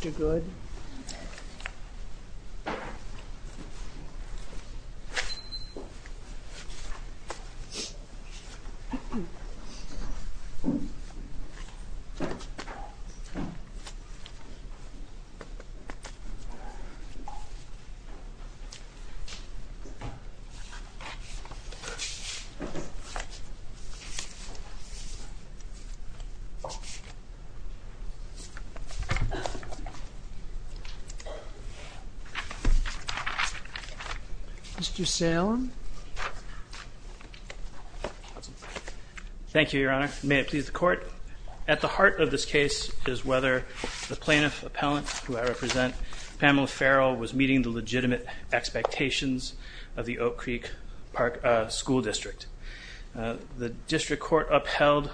Mr. Good Mr. Salem Thank you, Your Honor. May it please the Court, at the heart of this case is whether the plaintiff appellant, who I represent, Pamela Ferrill, was meeting the legitimate expectations of the Oak Creek School District. The District Court upheld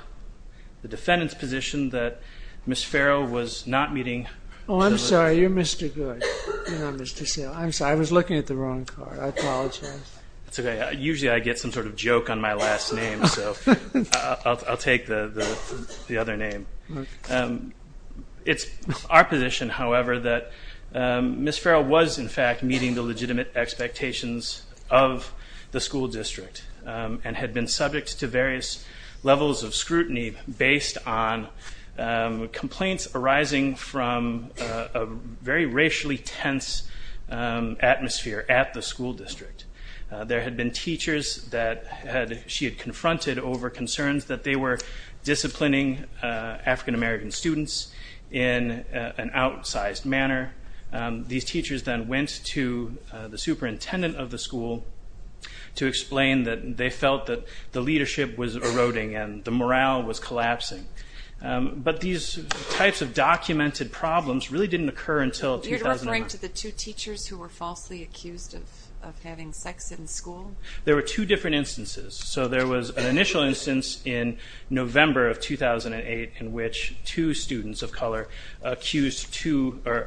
the defendant's position that Ms. Ferrill was not meeting... Oh, I'm sorry, you're Mr. Good, not Mr. Salem. I'm sorry, I was looking at the wrong card. I apologize. It's okay. Usually I get some sort of joke on my last name, so I'll take the other name. It's our position, however, that Ms. Ferrill was in fact meeting the legitimate expectations of the school district and had been subject to various levels of scrutiny based on complaints arising from a very racially tense atmosphere at the school district. There had been teachers that she had confronted over concerns that they were disciplining African American students in an outsized manner. These teachers then went to the superintendent of the school to explain that they felt that the leadership was eroding and the morale was collapsing. But these types of documented problems really didn't occur until 2009. Are you referring to the two teachers who were falsely accused of having sex in school? There were two different instances. So there was an initial instance in November of 2008 in which two students of color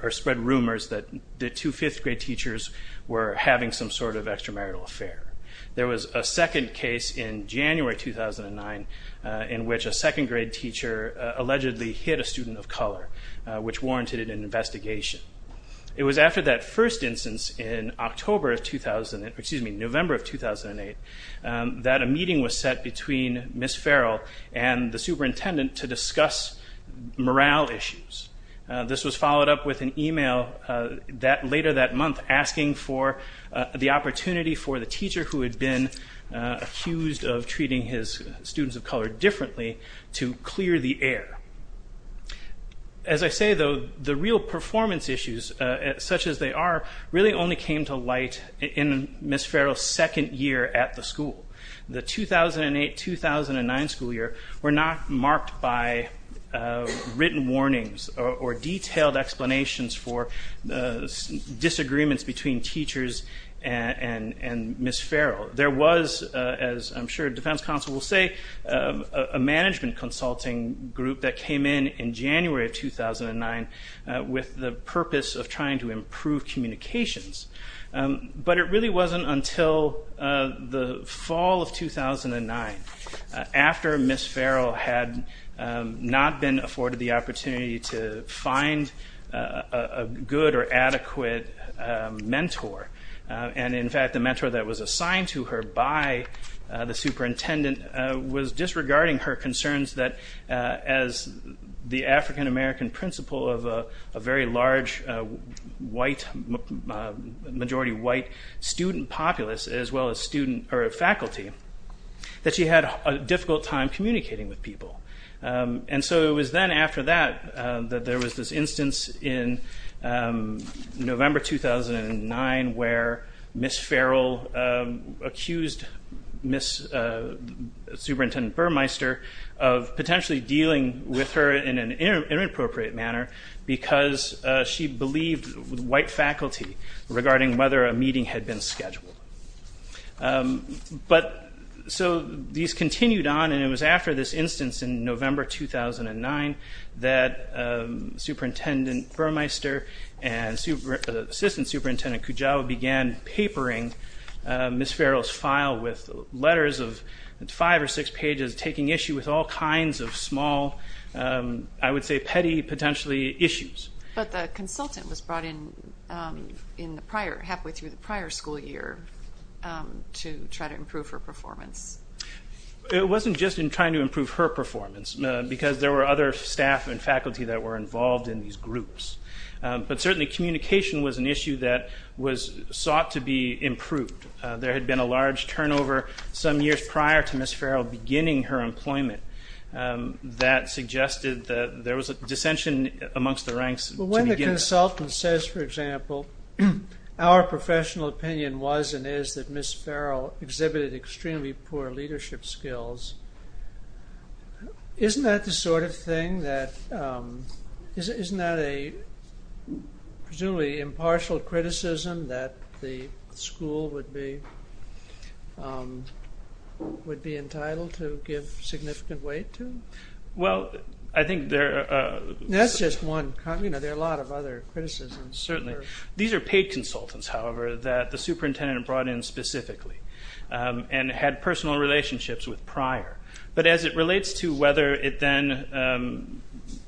spread rumors that the two fifth grade teachers were having some sort of extramarital affair. There was a second case in January 2009 in which a second grade teacher allegedly hit a student of color, which warranted an investigation. It was after that first instance in November of 2008 that a meeting was set between Ms. Ferrill and the superintendent to discuss morale issues. This was followed up with an email later that month asking for the opportunity for the teacher who had been accused of treating his students of color differently to clear the air. As I say though, the real performance issues, such as they are, really only came to light in Ms. Ferrill's second year at the school. The 2008-2009 school year were not marked by written warnings or detailed explanations for disagreements between teachers and Ms. Ferrill. There was, as I'm sure the defense counsel will say, a management consulting group that came in in January of 2009 with the purpose of trying to improve communications. It really wasn't until the fall of 2009, after Ms. Ferrill had not been afforded the opportunity to find a good or adequate mentor, and in fact the mentor that was assigned to her by the superintendent was disregarding her concerns that as the African-American principal of a very large majority white student populace as well as faculty, that she had a difficult time communicating with people. It was then after that that there was this instance in November 2009 where Ms. Ferrill accused Ms. Superintendent Burmeister of potentially dealing with her in an inappropriate manner because she believed white faculty regarding whether a meeting had been scheduled. So these continued on and it was after this instance in November 2009 that Superintendent Burmeister and Assistant Superintendent Kujawa began papering Ms. Ferrill's file with letters of five or six pages taking issue with all kinds of small, I would say petty potentially, issues. But the consultant was brought in halfway through the prior school year to try to improve her performance. It wasn't just in trying to improve her performance because there were other staff and faculty that were involved in these groups. But certainly communication was an issue that was sought to be improved. There had been a large turnover some years prior to Ms. Ferrill beginning her employment that suggested that there was a dissension amongst the ranks. When the consultant says, for example, our professional opinion was and is that Ms. Ferrill exhibited extremely poor leadership skills, isn't that the sort of thing that, isn't that a presumably impartial criticism that the school would be entitled to give significant weight to? That's just one. There are a lot of other criticisms. Certainly. These are paid consultants, however, that the superintendent brought in specifically and had personal relationships with prior. But as it relates to whether it then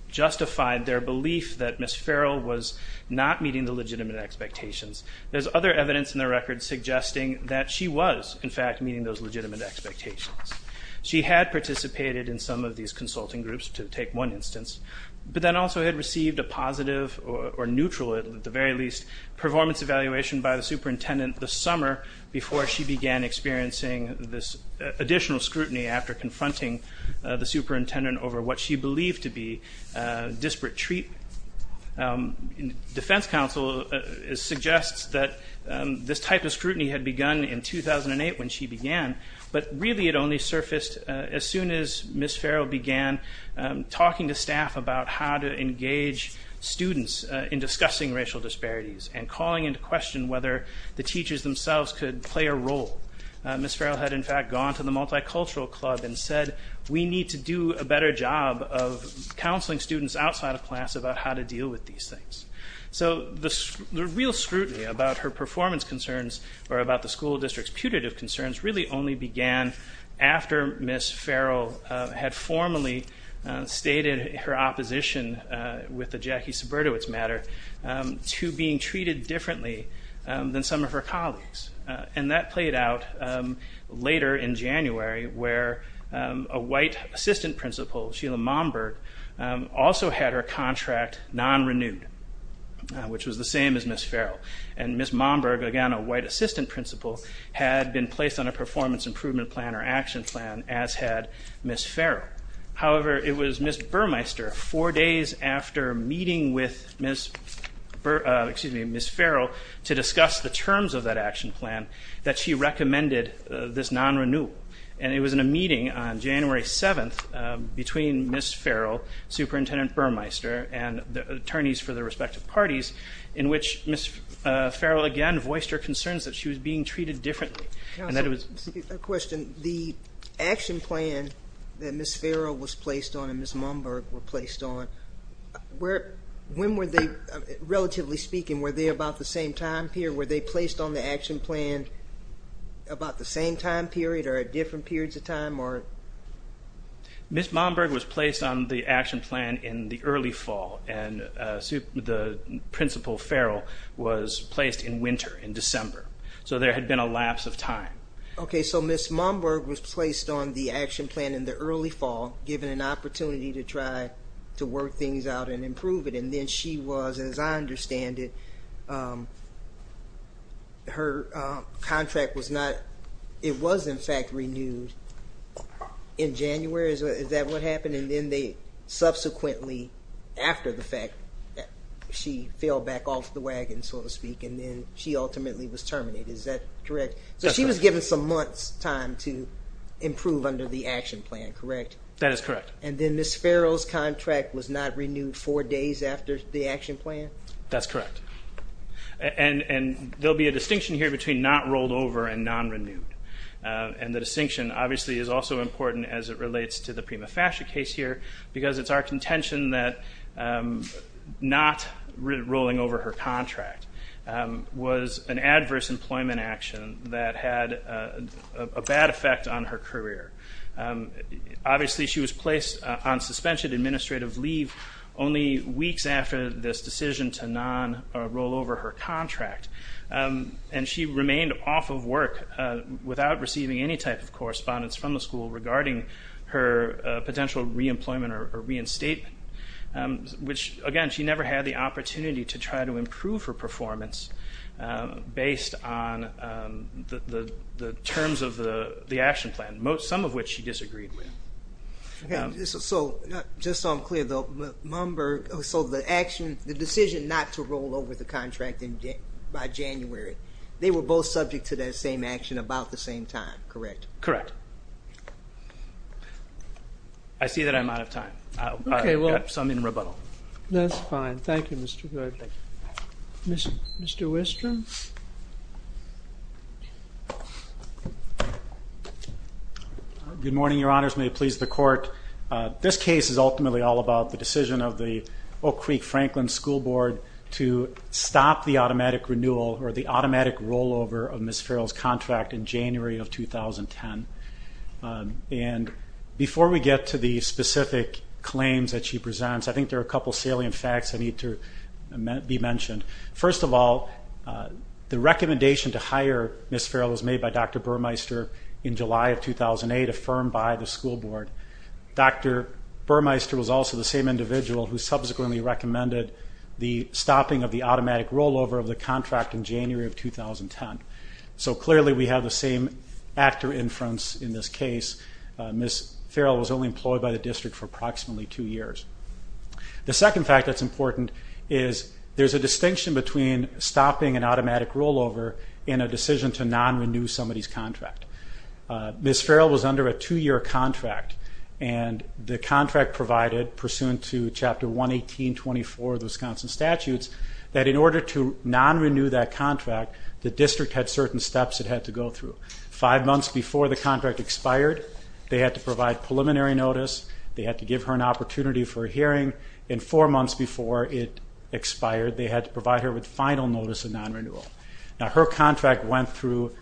justified their belief that Ms. Ferrill was not meeting the legitimate expectations, there's other evidence in the record suggesting that she was, in fact, meeting those legitimate expectations. She had participated in some of these consulting groups, to take one instance, but then also had received a positive or neutral, at the very least, performance evaluation by the superintendent the summer before she began experiencing this additional scrutiny after confronting the superintendent over what she believed to be disparate treatment. Defense counsel suggests that this type of scrutiny had begun in 2008 when she began, but really it only surfaced as soon as Ms. Ferrill began talking to staff about how to engage students in discussing racial disparities and calling into question whether the teachers themselves could play a role. Ms. Ferrill had, in fact, gone to the multicultural club and said, we need to do a better job of counseling students outside of class about how to deal with these things. So the real scrutiny about her performance concerns, or about the school district's putative concerns, really only began after Ms. Ferrill had formally stated her opposition, with the Jackie Subberdewitts matter, to being treated differently than some of her colleagues. And that played out later in January where a white assistant principal, Sheila Momberg, also had her contract non-renewed, which was the same as Ms. Ferrill. And Ms. Momberg, again a white assistant principal, had been placed on a performance improvement plan or action plan, as had Ms. Ferrill. However, it was Ms. Burmeister, four days after meeting with Ms. Ferrill to discuss the terms of that action plan, that she recommended this non-renewal. And it was in a meeting on January 7th between Ms. Ferrill, Superintendent Burmeister, and the attorneys for their respective parties, in which Ms. Ferrill again voiced her concerns that she was being treated differently. Excuse me, a question. The action plan that Ms. Ferrill was placed on and Ms. Momberg were placed on, when were they, relatively speaking, were they about the same time period? Were they placed on the action plan about the same time period or at different periods of time? Ms. Momberg was placed on the action plan in the early fall, and the principal, Ferrill, was placed in winter, in December. So there had been a lapse of time. Okay, so Ms. Momberg was placed on the action plan in the early fall, given an opportunity to try to work things out and improve it, and then she was, as I understand it, her contract was not, it was in fact renewed in January, is that what happened? And then they subsequently, after the fact, she fell back off the wagon, so to speak, and then she ultimately was terminated. Is that correct? That's correct. So she was given some months' time to improve under the action plan, correct? That is correct. And then Ms. Ferrill's contract was not renewed four days after the action plan? That's correct. And there will be a distinction here between not rolled over and non-renewed. And the distinction, obviously, is also important as it relates to the Prima Fascia case here, because it's our contention that not rolling over her contract was an adverse employment action that had a bad effect on her career. Obviously, she was placed on suspension administrative leave only weeks after this decision to non-roll over her contract, and she remained off of work without receiving any type of correspondence from the school regarding her potential reemployment or reinstatement, which, again, she never had the opportunity to try to improve her performance based on the terms of the action plan, some of which she disagreed with. Just so I'm clear, the decision not to roll over the contract by January, they were both subject to that same action about the same time, correct? Correct. I see that I'm out of time, so I'm in rebuttal. That's fine. Thank you, Mr. Good. Mr. Wistrom? Good morning, Your Honors. May it please the Court. This case is ultimately all about the decision of the Oak Creek Franklin School Board to stop the automatic renewal or the automatic rollover of Ms. Farrell's contract in January of 2010. And before we get to the specific claims that she presents, I think there are a couple salient facts that need to be mentioned. First of all, the recommendation to hire Ms. Farrell was made by Dr. Burmeister in July of 2008, affirmed by the school board. Dr. Burmeister was also the same individual who subsequently recommended the stopping of the automatic rollover of the contract in January of 2010. So clearly we have the same actor inference in this case. Ms. Farrell was only employed by the district for approximately two years. The second fact that's important is there's a distinction between stopping an automatic rollover and a decision to non-renew somebody's contract. Ms. Farrell was under a two-year contract, and the contract provided, pursuant to Chapter 118.24 of the Wisconsin Statutes, that in order to non-renew that contract, the district had certain steps it had to go through. Five months before the contract expired, they had to provide preliminary notice, they had to give her an opportunity for a hearing, and four months before it expired, they had to provide her with final notice of non-renewal. Now, her contract went through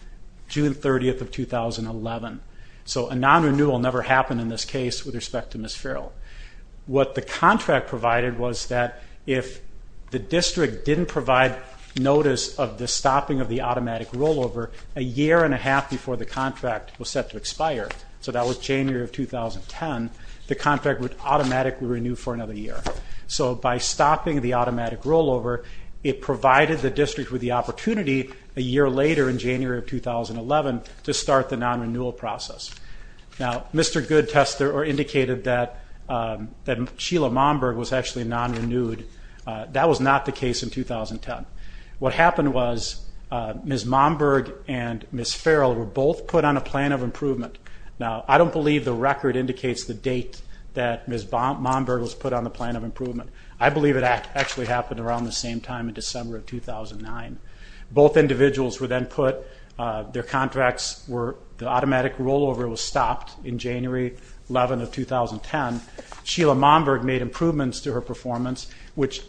June 30th of 2011. So a non-renewal never happened in this case with respect to Ms. Farrell. What the contract provided was that if the district didn't provide notice of the stopping of the automatic rollover a year and a half before the contract was set to expire, so that was January of 2010, the contract would automatically renew for another year. So by stopping the automatic rollover, it provided the district with the opportunity a year later in January of 2011 to start the non-renewal process. Now, Mr. Goodtester indicated that Sheila Momberg was actually non-renewed. That was not the case in 2010. What happened was Ms. Momberg and Ms. Farrell were both put on a plan of improvement. Now, I don't believe the record indicates the date that Ms. Momberg was put on the plan of improvement. I believe it actually happened around the same time in December of 2009. Both individuals were then put, their contracts were, the automatic rollover was stopped in January 11th of 2010. Sheila Momberg made improvements to her performance, which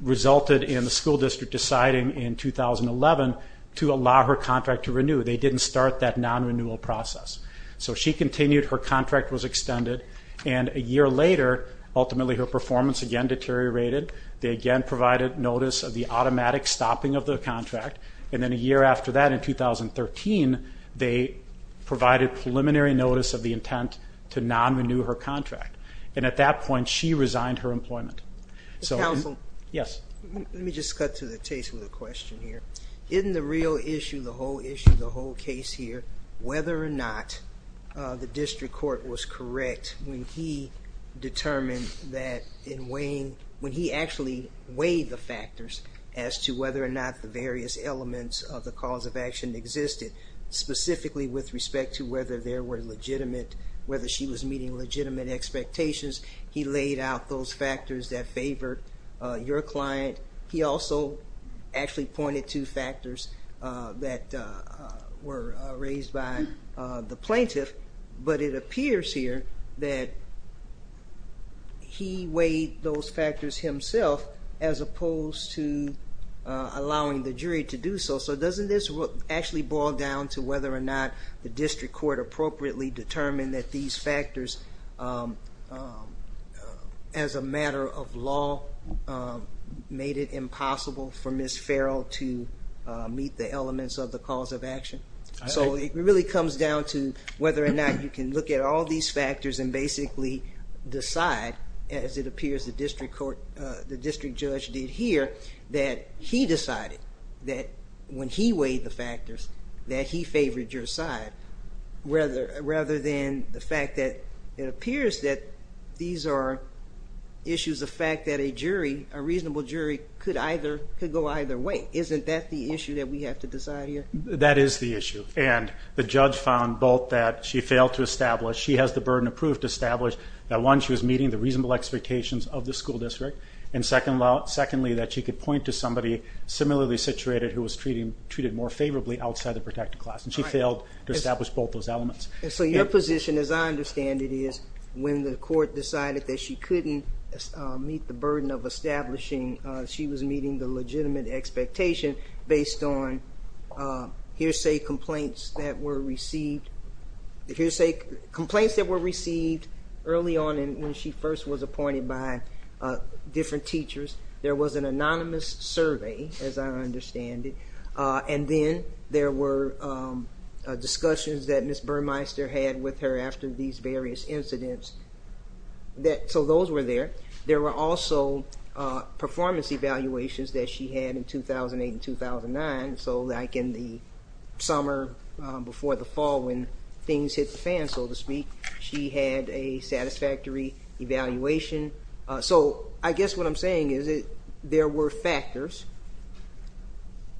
resulted in the school district deciding in 2011 to allow her contract to renew. They didn't start that non-renewal process. So she continued, her contract was extended, and a year later, ultimately her performance again deteriorated. They again provided notice of the automatic stopping of the contract. And then a year after that, in 2013, they provided preliminary notice of the intent to non-renew her contract. And at that point, she resigned her employment. Counsel? Yes. Let me just cut to the chase with a question here. Isn't the real issue, the whole issue, the whole case here, whether or not the district court was correct when he determined that in weighing, when he actually weighed the factors as to whether or not the various elements of the cause of action existed, specifically with respect to whether there were legitimate, whether she was meeting legitimate expectations. He laid out those factors that favored your client. He also actually pointed to factors that were raised by the plaintiff. But it appears here that he weighed those factors himself as opposed to allowing the jury to do so. So doesn't this actually boil down to whether or not the district court appropriately determined that these factors, as a matter of law, made it impossible for Ms. Farrell to meet the elements of the cause of action? So it really comes down to whether or not you can look at all these factors and basically decide, as it appears the district judge did here, that he decided that when he weighed the factors that he favored your side, rather than the fact that it appears that these are issues of fact that a jury, a reasonable jury, could go either way. Isn't that the issue that we have to decide here? That is the issue. And the judge found both that she failed to establish, she has the burden of proof to establish, that one, she was meeting the reasonable expectations of the school district, and secondly, that she could point to somebody similarly situated who was treated more favorably outside the protected class. And she failed to establish both those elements. So your position, as I understand it, is when the court decided that she couldn't meet the burden of establishing, she was meeting the legitimate expectation based on hearsay complaints that were received early on and when she first was appointed by different teachers. There was an anonymous survey, as I understand it, and then there were discussions that Ms. Burmeister had with her after these various incidents. So those were there. There were also performance evaluations that she had in 2008 and 2009. So like in the summer before the fall when things hit the fan, so to speak, she had a satisfactory evaluation. So I guess what I'm saying is that there were factors,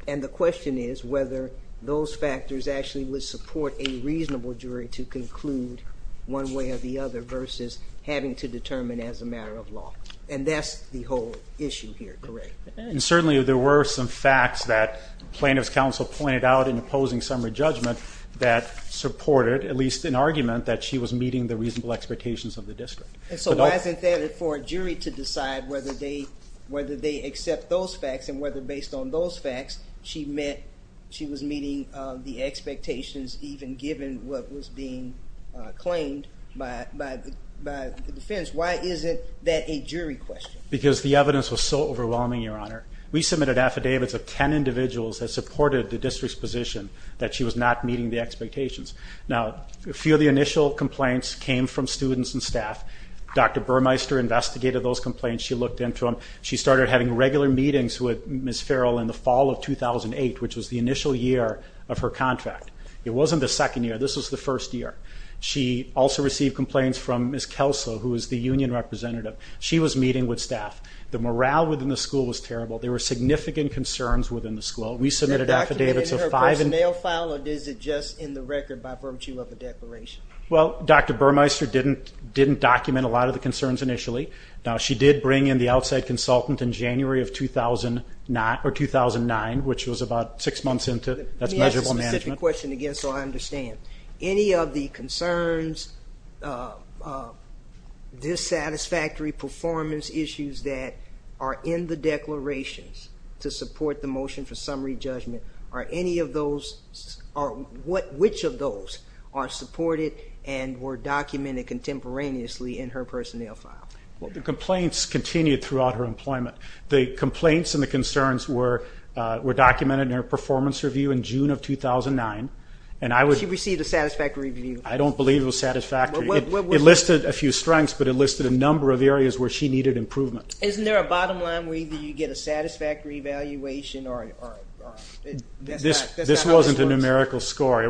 and the question is whether those factors actually would support a reasonable jury to conclude one way or the other versus having to determine as a matter of law. And that's the whole issue here, correct? And certainly there were some facts that plaintiff's counsel pointed out in opposing summary judgment that supported, at least in argument, that she was meeting the reasonable expectations of the district. So why isn't that for a jury to decide whether they accept those facts and whether based on those facts she was meeting the expectations even given what was being claimed by the defense? Why isn't that a jury question? Because the evidence was so overwhelming, Your Honor. We submitted affidavits of 10 individuals that supported the district's position that she was not meeting the expectations. Now, a few of the initial complaints came from students and staff. Dr. Burmeister investigated those complaints. She looked into them. She started having regular meetings with Ms. Farrell in the fall of 2008, which was the initial year of her contract. It wasn't the second year. This was the first year. She also received complaints from Ms. Kelso, who was the union representative. She was meeting with staff. The morale within the school was terrible. There were significant concerns within the school. We submitted affidavits of five and ó Is it documented in her personnel file, or is it just in the record by virtue of the declaration? Well, Dr. Burmeister didn't document a lot of the concerns initially. Now, she did bring in the outside consultant in January of 2009, which was about six months intoó Let me ask a specific question again so I understand. Any of the concerns, dissatisfactory performance issues that are in the declarations to support the motion for summary judgment, are any of those ó in her personnel file? The complaints continued throughout her employment. The complaints and the concerns were documented in her performance review in June of 2009. She received a satisfactory review? I don't believe it was satisfactory. It listed a few strengths, but it listed a number of areas where she needed improvement. Isn't there a bottom line where you get a satisfactory evaluation? This wasn't a numerical score.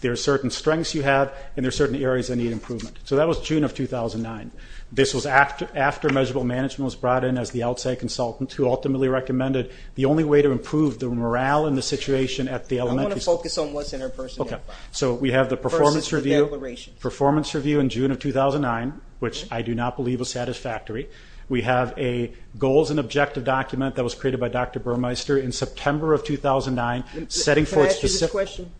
There are certain strengths you have, and there are certain areas that need improvement. So that was June of 2009. This was after measurable management was brought in as the outside consultant, who ultimately recommended the only way to improve the morale in the situation at the elementaryó I want to focus on what's in her personnel fileó Okay, so we have the performance reviewó versus the declaration. Performance review in June of 2009, which I do not believe was satisfactory. We have a goals and objective document that was created by Dr. Burmeister in September of 2009, setting forth specificó Can I ask you this question?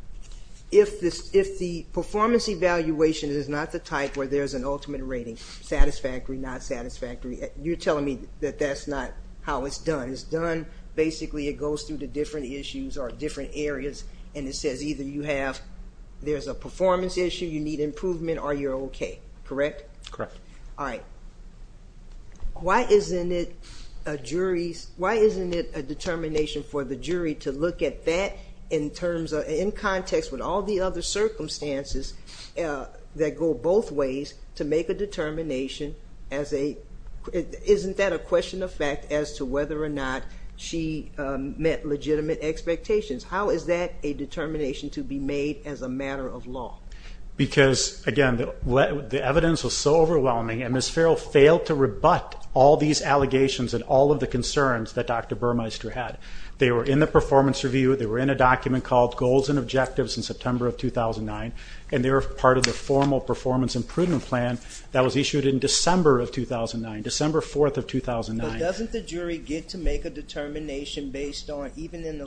If the performance evaluation is not the type where there's an ultimate rating, satisfactory, not satisfactory, you're telling me that that's not how it's done. It's doneóbasically it goes through the different issues or different areas, and it says either you haveóthere's a performance issue, you need improvement, or you're okay. Correct? Correct. All right. Why isn't it a jury'sówhy isn't it a determination for the jury to look at that in terms ofóin context with all the other circumstances that go both ways to make a determination as aó isn't that a question of fact as to whether or not she met legitimate expectations? How is that a determination to be made as a matter of law? Because, again, the evidence was so overwhelming, and Ms. Farrell failed to rebut all these allegations and all of the concerns that Dr. Burmeister had. They were in the performance review. They were in a document called Goals and Objectives in September of 2009, and they were part of the formal performance improvement plan that was issued in December of 2009, December 4th of 2009. But doesn't the jury get to make a determination based onóeven in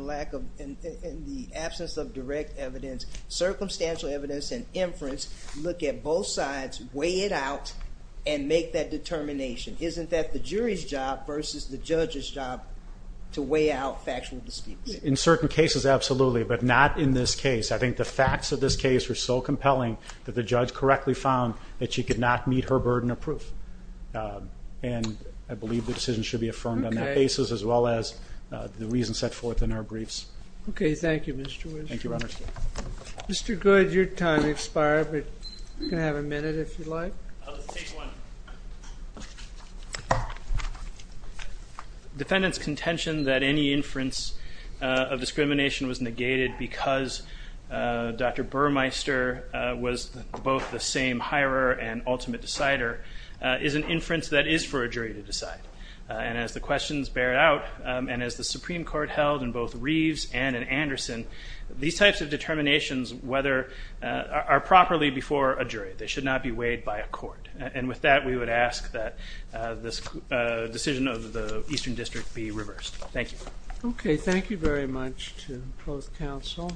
the absence of direct evidence, circumstantial evidence, and inference, look at both sides, weigh it out, and make that determination? Isn't that the jury's job versus the judge's job to weigh out factual disputes? In certain cases, absolutely, but not in this case. I think the facts of this case were so compelling that the judge correctly found that she could not meet her burden of proof. And I believe the decision should be affirmed on that basis as well as the reasons set forth in our briefs. Okay. Mr. Goode, your time expired, but you can have a minute if you'd like. I'll just take one. Defendant's contention that any inference of discrimination was negated because Dr. Burmeister was both the same hirer and ultimate decider is an inference that is for a jury to decide. And as the questions bear out, and as the Supreme Court held in both Reeves and in Anderson, these types of determinations are properly before a jury. They should not be weighed by a court. And with that, we would ask that this decision of the Eastern District be reversed. Thank you. Okay. Thank you very much to both counsel.